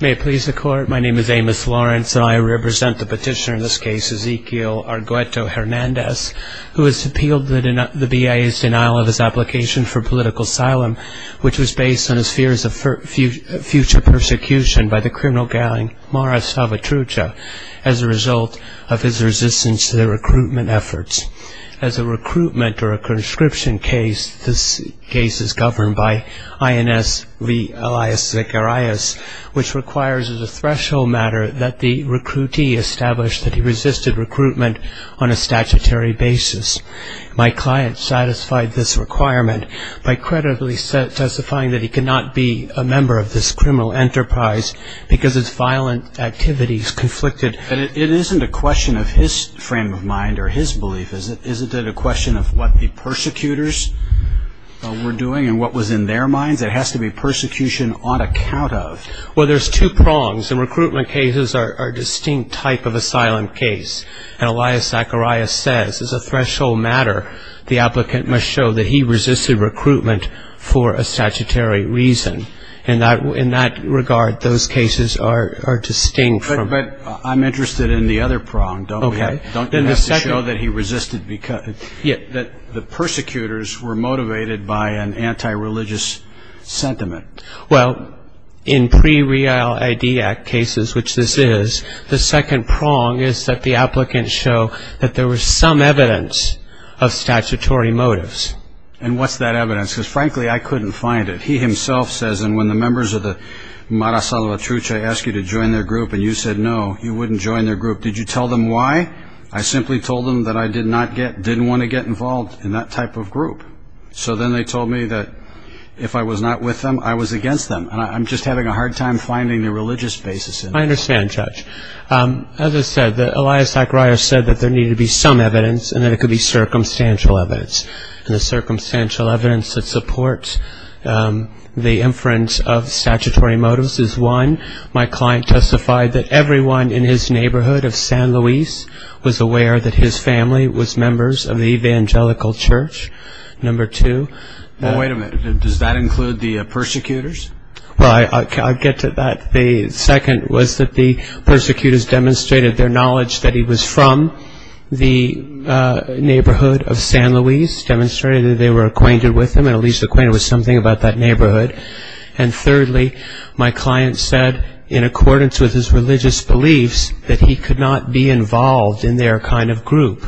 May I please the court? My name is Amos Lawrence and I represent the petitioner in this case, Ezequiel Argueto-Hernandez, who has appealed the BIA's denial of his application for political asylum, which was based on his fears of future persecution by the criminal gang Mara Salvatrucha, as a result of his resistance to the recruitment of the BIA. As a recruitment or a conscription case, this case is governed by INS v. Elias Zacharias, which requires as a threshold matter that the recruitee establish that he resisted recruitment on a statutory basis. My client satisfied this requirement by credibly testifying that he could not be a member of this criminal enterprise because his violent activities conflicted. It isn't a question of his frame of mind or his belief, is it? Is it a question of what the persecutors were doing and what was in their minds? It has to be persecution on account of. Well, there's two prongs, and recruitment cases are a distinct type of asylum case. And Elias Zacharias says, as a threshold matter, the applicant must show that he resisted recruitment for a statutory reason. In that regard, those cases are distinct from. But I'm interested in the other prong. Okay. Duncan has to show that he resisted, that the persecutors were motivated by an anti-religious sentiment. Well, in pre-Real ID Act cases, which this is, the second prong is that the applicants show that there was some evidence of statutory motives. And what's that evidence? Because, frankly, I couldn't find it. He himself says, and when the members of the Mara Salvatrucha asked you to join their group and you said no, you wouldn't join their group, did you tell them why? I simply told them that I did not get, didn't want to get involved in that type of group. So then they told me that if I was not with them, I was against them. And I'm just having a hard time finding the religious basis. I understand, Judge. As I said, Elias Zacharias said that there needed to be some evidence and that it could be circumstantial evidence. And the circumstantial evidence that supports the inference of statutory motives is one, my client testified that everyone in his neighborhood of San Luis was aware that his family was members of the Evangelical Church, number two. Wait a minute. Does that include the persecutors? Well, I'll get to that. The second was that the persecutors demonstrated their knowledge that he was from the neighborhood of San Luis, demonstrated that they were acquainted with him and at least acquainted with something about that neighborhood. And thirdly, my client said, in accordance with his religious beliefs, that he could not be involved in their kind of group.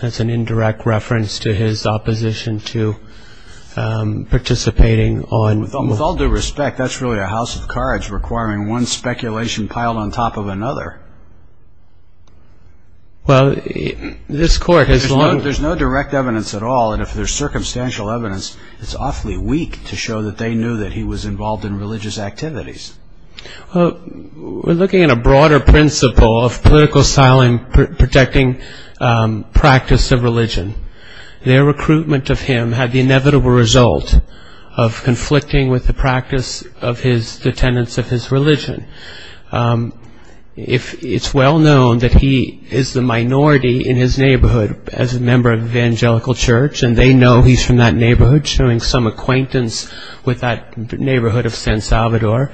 That's an indirect reference to his opposition to participating on... With all due respect, that's really a house of cards requiring one speculation piled on top of another. Well, this court has... There's no direct evidence at all. And if there's circumstantial evidence, it's awfully weak to show that they knew that he was involved in religious activities. We're looking at a broader principle of political asylum protecting practice of religion. Their recruitment of him had the inevitable result of conflicting with the practice of his...the tenets of his religion. It's well known that he is the minority in his neighborhood as a member of the Evangelical Church and they know he's from that neighborhood, showing some acquaintance with that neighborhood of San Salvador.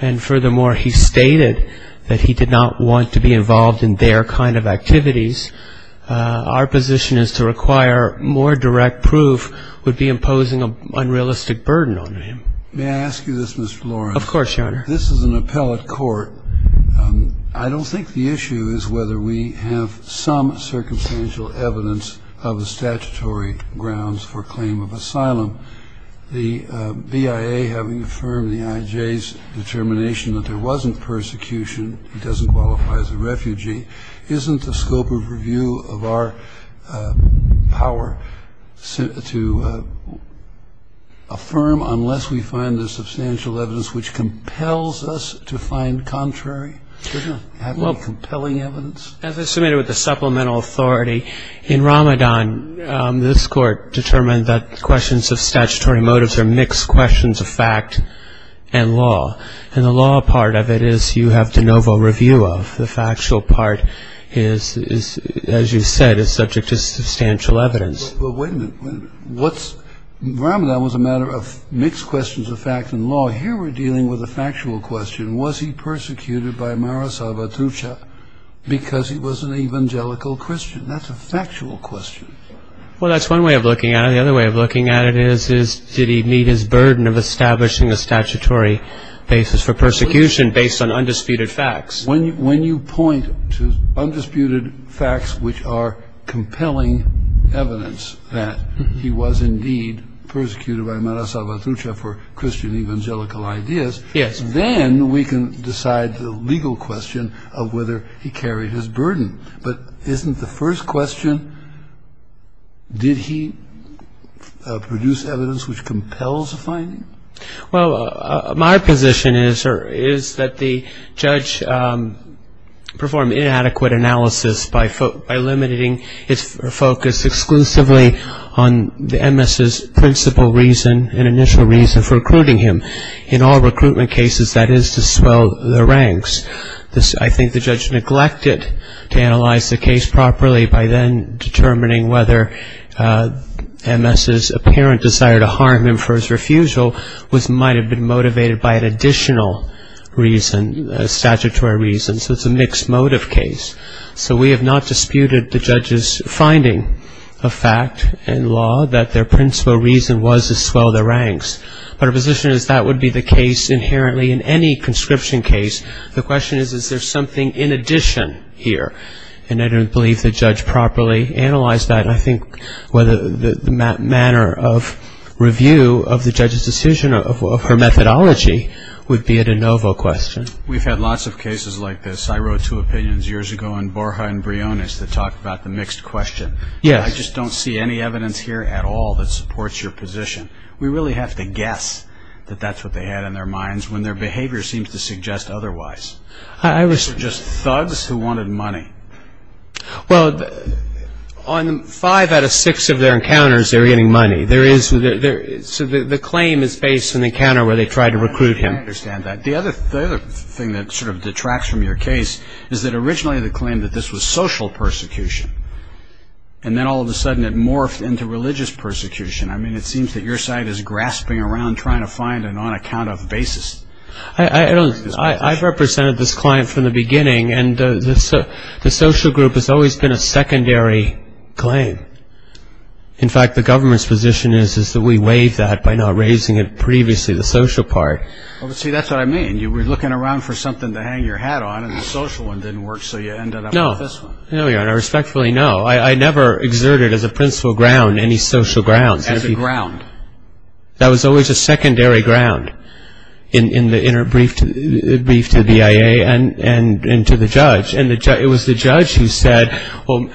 And furthermore, he stated that he did not want to be involved in their kind of activities. Our position is to require more direct proof would be imposing an unrealistic burden on him. May I ask you this, Mr. Lawrence? Of course, Your Honor. This is an appellate court. I don't think the issue is whether we have some circumstantial evidence of the statutory grounds for claim of asylum. The BIA, having affirmed the IJ's determination that there wasn't persecution, he doesn't qualify as a refugee, isn't the scope of review of our power to affirm unless we find the substantial evidence which compels us to find contrary? Doesn't it have any compelling evidence? As I submitted with the supplemental authority, in Ramadan, this court determined that questions of statutory motives are mixed questions of fact and law. And the law part of it is you have de novo review of. The factual part, as you said, is subject to substantial evidence. But wait a minute. Ramadan was a matter of mixed questions of fact and law. Here we're dealing with a factual question. Was he persecuted by Mara Salvatrucha because he was an Evangelical Christian? That's a factual question. Well, that's one way of looking at it. And the other way of looking at it is did he meet his burden of establishing a statutory basis for persecution based on undisputed facts? When you point to undisputed facts which are compelling evidence that he was indeed persecuted by Mara Salvatrucha for Christian Evangelical ideas, then we can decide the legal question of whether he carried his burden. But isn't the first question, did he produce evidence which compels a finding? Well, my position is that the judge performed inadequate analysis by limiting its focus exclusively on the MS's principal reason and initial reason for recruiting him. In all recruitment cases, that is to swell the ranks. I think the judge neglected to analyze the case properly by then determining whether MS's apparent desire to harm him for his refusal might have been motivated by an additional reason, a statutory reason. So it's a mixed motive case. So we have not disputed the judge's finding of fact and law that their principal reason was to swell the ranks. But our position is that would be the case inherently in any conscription case. The question is, is there something in addition here? And I don't believe the judge properly analyzed that. I think whether the manner of review of the judge's decision of her methodology would be a de novo question. We've had lots of cases like this. I wrote two opinions years ago on Borja and Briones that talked about the mixed question. I just don't see any evidence here at all that supports your position. We really have to guess that that's what they had in their minds when their behavior seems to suggest otherwise. They were just thugs who wanted money. Well, on five out of six of their encounters they were getting money. So the claim is based on the encounter where they tried to recruit him. I understand that. The other thing that sort of detracts from your case is that originally the claim that this was social persecution and then all of a sudden it morphed into religious persecution. I mean, it seems that your side is grasping around trying to find an on-account-of basis. I've represented this client from the beginning, and the social group has always been a secondary claim. In fact, the government's position is that we waived that by not raising it previously, the social part. See, that's what I mean. You were looking around for something to hang your hat on, and the social one didn't work, so you ended up with this one. No, Your Honor. Respectfully, no. I never exerted as a principal ground any social grounds. As a ground. That was always a secondary ground in the brief to the BIA and to the judge. It was the judge who said, well,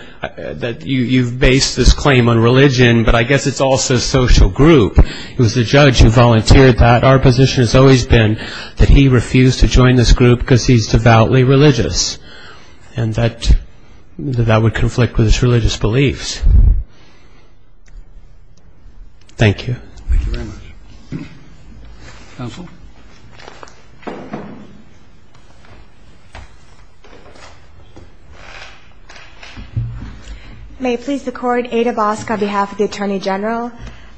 you've based this claim on religion, but I guess it's also a social group. It was the judge who volunteered that. Our position has always been that he refused to join this group because he's devoutly religious and that that would conflict with his religious beliefs. Thank you. Thank you very much. Counsel. May it please the Court, Ada Bosk on behalf of the Attorney General.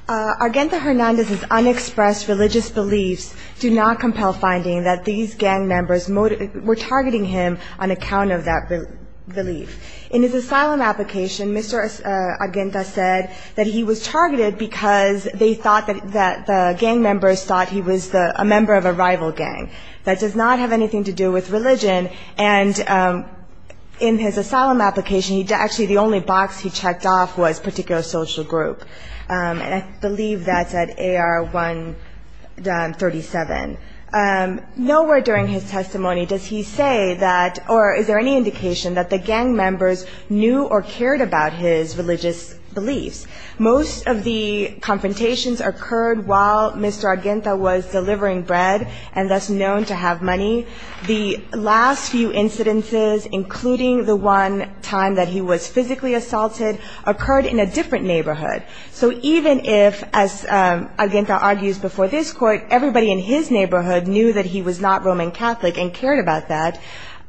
Argento Hernandez's unexpressed religious beliefs do not compel finding that these gang members were targeting him on account of that belief. In his asylum application, Mr. Argento said that he was targeted because they thought that the gang members thought he was a member of a rival gang. That does not have anything to do with religion. And in his asylum application, actually the only box he checked off was particular social group. And I believe that's at AR-137. Nowhere during his testimony does he say that or is there any indication that the gang members knew or cared about his religious beliefs. Most of the confrontations occurred while Mr. Argento was delivering bread and thus known to have money. The last few incidences, including the one time that he was physically assaulted, occurred in a different neighborhood. So even if, as Argento argues before this Court, everybody in his neighborhood knew that he was not Roman Catholic and cared about that,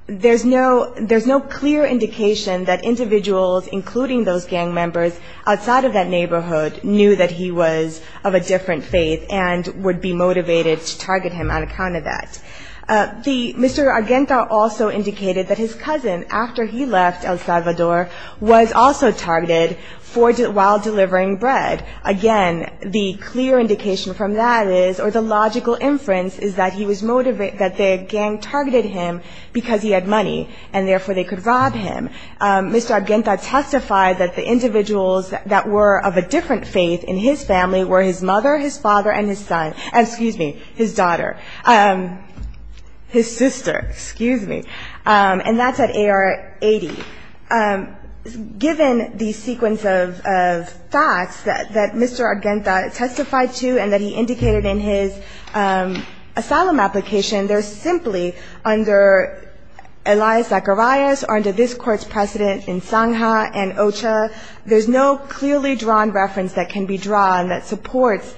there's no clear indication that individuals, including those gang members, outside of that neighborhood knew that he was of a different faith and would be motivated to target him on account of that. Mr. Argento also indicated that his cousin, after he left El Salvador, was also targeted while delivering bread. Again, the clear indication from that is, or the logical inference, is that he was motivated, that the gang targeted him because he had money and therefore they could rob him. Mr. Argento testified that the individuals that were of a different faith in his family were his mother, his father, and his son, excuse me, his daughter. His sister, excuse me. And that's at AR-80. Given the sequence of facts that Mr. Argento testified to and that he indicated in his asylum application, there's simply under Elias Zacharias or under this Court's precedent in Sangha and Ocha, there's no clearly drawn reference that can be drawn that supports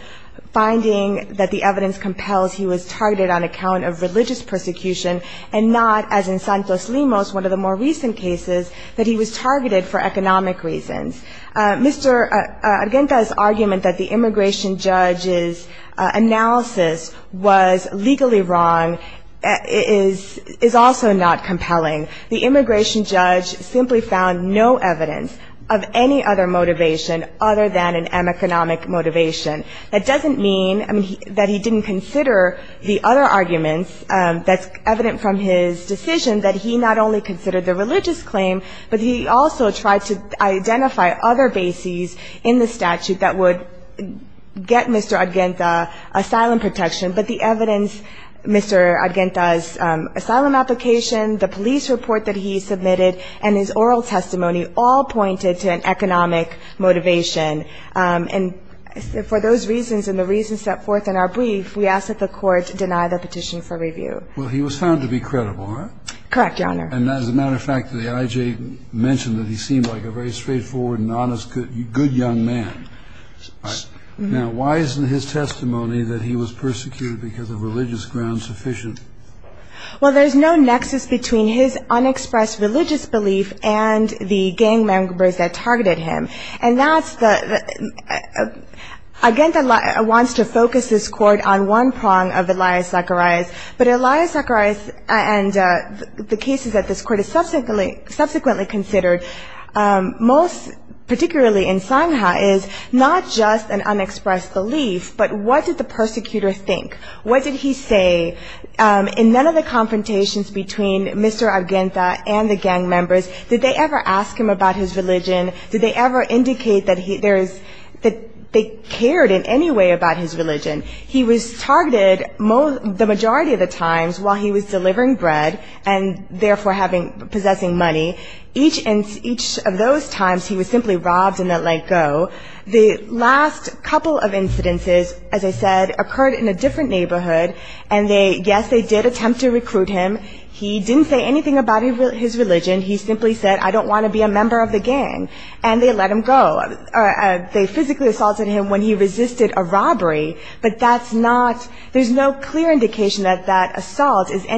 finding that the evidence compels he was targeted on account of religious persecution and not, as in Santos Limos, one of the more recent cases, that he was targeted for economic reasons. Mr. Argento's argument that the immigration judge's analysis was legally wrong is also not compelling. The immigration judge simply found no evidence of any other motivation other than an economic motivation. That doesn't mean that he didn't consider the other arguments that's evident from his decision that he not only considered the religious claim, but he also tried to identify other bases in the statute that would get Mr. Argento asylum protection. But the evidence, Mr. Argento's asylum application, the police report that he submitted, and his oral testimony all pointed to an economic motivation. And for those reasons and the reasons set forth in our brief, we ask that the Court deny the petition for review. Well, he was found to be credible, huh? Correct, Your Honor. And as a matter of fact, the IJ mentioned that he seemed like a very straightforward and honest good young man. Now, why isn't his testimony that he was persecuted because of religious grounds sufficient? Well, there's no nexus between his unexpressed religious belief and the gang members that targeted him. And that's the – Argento wants to focus this Court on one prong of Elias Zacharias, but Elias Zacharias and the cases that this Court has subsequently considered, most particularly in Sangha, is not just an unexpressed belief, but what did the persecutor think? What did he say? In none of the confrontations between Mr. Argento and the gang members, did they ever ask him about his religion? Did they ever indicate that they cared in any way about his religion? He was targeted the majority of the times while he was delivering bread and therefore possessing money. Each of those times he was simply robbed and let go. The last couple of incidences, as I said, occurred in a different neighborhood, and yes, they did attempt to recruit him. He didn't say anything about his religion. He simply said, I don't want to be a member of the gang, and they let him go. They physically assaulted him when he resisted a robbery, but that's not – there's no clear indication that that assault is in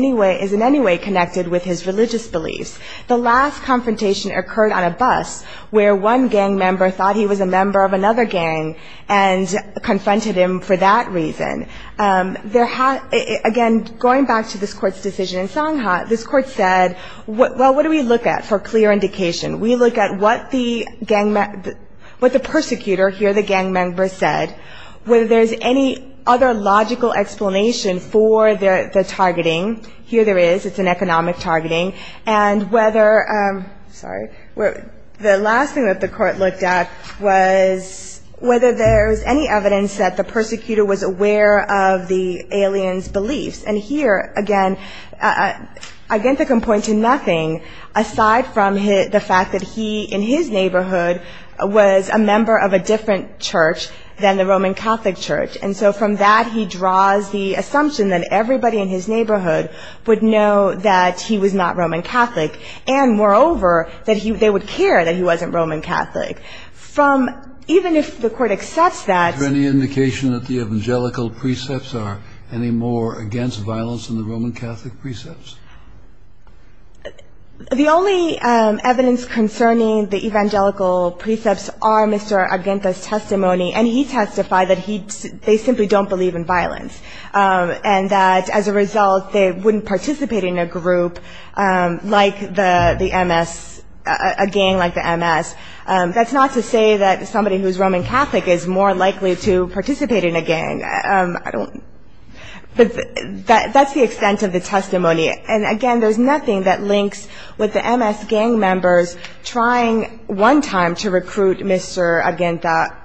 any way connected with his religious beliefs. The last confrontation occurred on a bus where one gang member thought he was a member of another gang and confronted him for that reason. Again, going back to this Court's decision in Sangha, this Court said, well, what do we look at for clear indication? We look at what the persecutor, here the gang member, said, whether there's any other logical explanation for the targeting. Here there is. It's an economic targeting. And whether – sorry. The last thing that the Court looked at was whether there was any evidence that the persecutor was aware of the alien's beliefs. And here, again, Identica can point to nothing aside from the fact that he, in his neighborhood, was a member of a different church than the Roman Catholic church. And so from that he draws the assumption that everybody in his neighborhood would know that he was not Roman Catholic, and moreover that they would care that he wasn't Roman Catholic. From – even if the Court accepts that – The only evidence concerning the evangelical precepts are Mr. Aguenta's testimony, and he testified that he – they simply don't believe in violence, and that as a result they wouldn't participate in a group like the MS – a gang like the MS. That's not to say that somebody who's Roman Catholic is more likely to participate in a gang. I don't – but that's the extent of the testimony. And, again, there's nothing that links with the MS gang members trying one time to recruit Mr. Aguenta,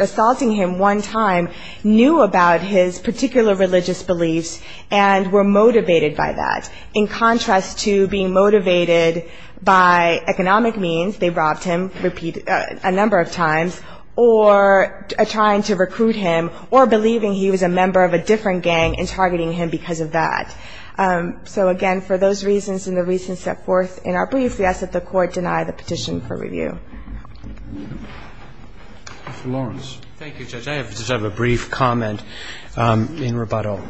assaulting him one time, knew about his particular religious beliefs and were motivated by that, in contrast to being motivated by economic means – they robbed him a number of times – trying to recruit him or believing he was a member of a different gang and targeting him because of that. So, again, for those reasons and the reasons set forth in our brief, we ask that the Court deny the petition for review. Mr. Lawrence. Thank you, Judge. I just have a brief comment in rebuttal.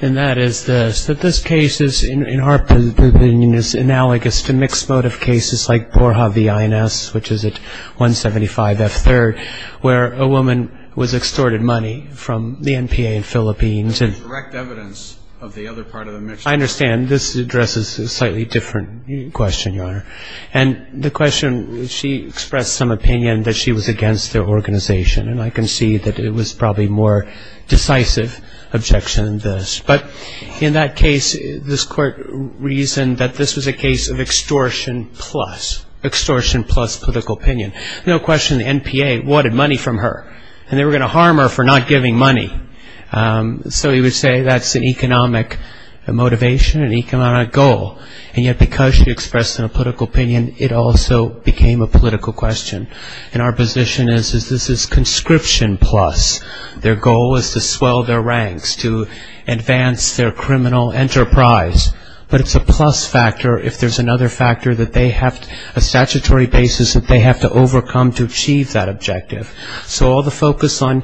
And that is this, that this case is, in our opinion, is analogous to mixed motive cases like Borja v. INS, which is at 175 F3rd, where a woman was extorted money from the NPA in Philippines. This is direct evidence of the other part of the mix. I understand. This addresses a slightly different question, Your Honor. And the question – she expressed some opinion that she was against the organization, and I can see that it was probably more decisive objection than this. But in that case, this Court reasoned that this was a case of extortion plus political opinion. No question the NPA wanted money from her, and they were going to harm her for not giving money. So you would say that's an economic motivation, an economic goal. And yet because she expressed a political opinion, it also became a political question. And our position is that this is conscription plus. Their goal is to swell their ranks, to advance their criminal enterprise. But it's a plus factor if there's another factor that they have – a statutory basis that they have to overcome to achieve that objective. So all the focus on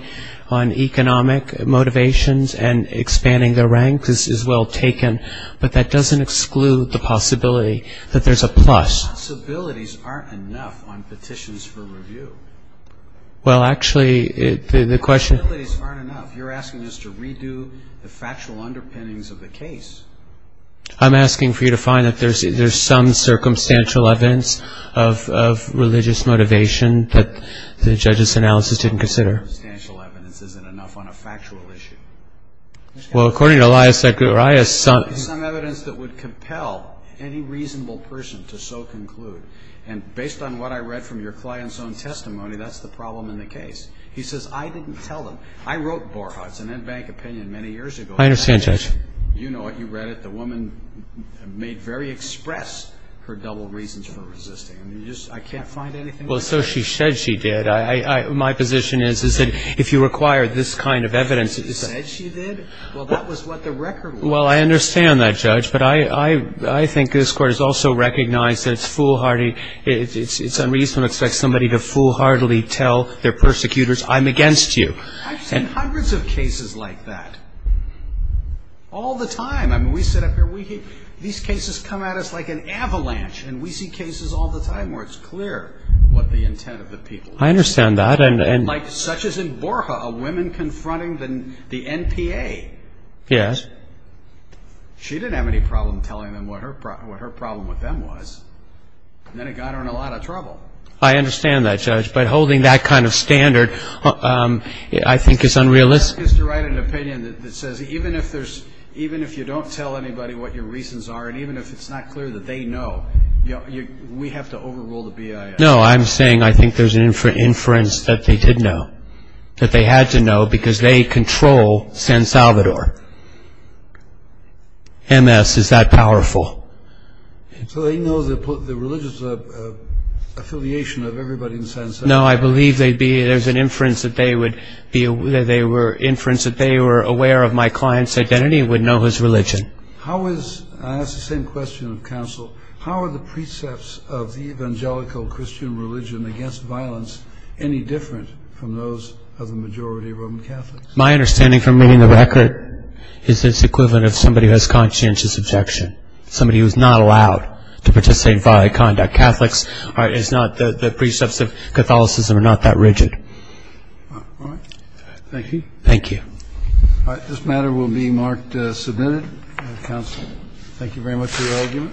economic motivations and expanding their ranks is well taken, but that doesn't exclude the possibility that there's a plus. The possibilities aren't enough on petitions for review. Well, actually, the question – The possibilities aren't enough. You're asking us to redo the factual underpinnings of the case. I'm asking for you to find that there's some circumstantial evidence of religious motivation that the judge's analysis didn't consider. Some circumstantial evidence isn't enough on a factual issue. Well, according to Elias Zacharias – Some evidence that would compel any reasonable person to so conclude. And based on what I read from your client's own testimony, that's the problem in the case. He says, I didn't tell them. I wrote Borchardt's and Ed Bank opinion many years ago. I understand, Judge. You know it. You read it. The woman made very express her double reasons for resisting. I mean, you just – I can't find anything. Well, so she said she did. My position is, is that if you require this kind of evidence – She said she did? Well, that was what the record was. Well, I understand that, Judge. But I think this Court has also recognized that it's foolhardy. It's unreasonable to expect somebody to foolhardily tell their persecutors, I'm against you. I've seen hundreds of cases like that all the time. I mean, we sit up here. These cases come at us like an avalanche. And we see cases all the time where it's clear what the intent of the people is. I understand that. Like such as in Borja, a woman confronting the NPA. Yes. She didn't have any problem telling them what her problem with them was. And then it got her in a lot of trouble. I understand that, Judge. But holding that kind of standard, I think, is unrealistic. I'm asking you to write an opinion that says even if you don't tell anybody what your reasons are, and even if it's not clear that they know, we have to overrule the BIA. No, I'm saying I think there's an inference that they did know, that they had to know because they control San Salvador. MS is that powerful. So they know the religious affiliation of everybody in San Salvador. No, I believe there's an inference that they were aware of my client's identity and would know his religion. I ask the same question of counsel. How are the precepts of the evangelical Christian religion against violence any different from those of the majority of Roman Catholics? My understanding from reading the record is it's the equivalent of somebody who has conscientious objection, somebody who's not allowed to participate in violent conduct. Catholics are not the precepts of Catholicism are not that rigid. All right. Thank you. Thank you. All right. This matter will be marked submitted. Counsel, thank you very much for your argument. Thank you.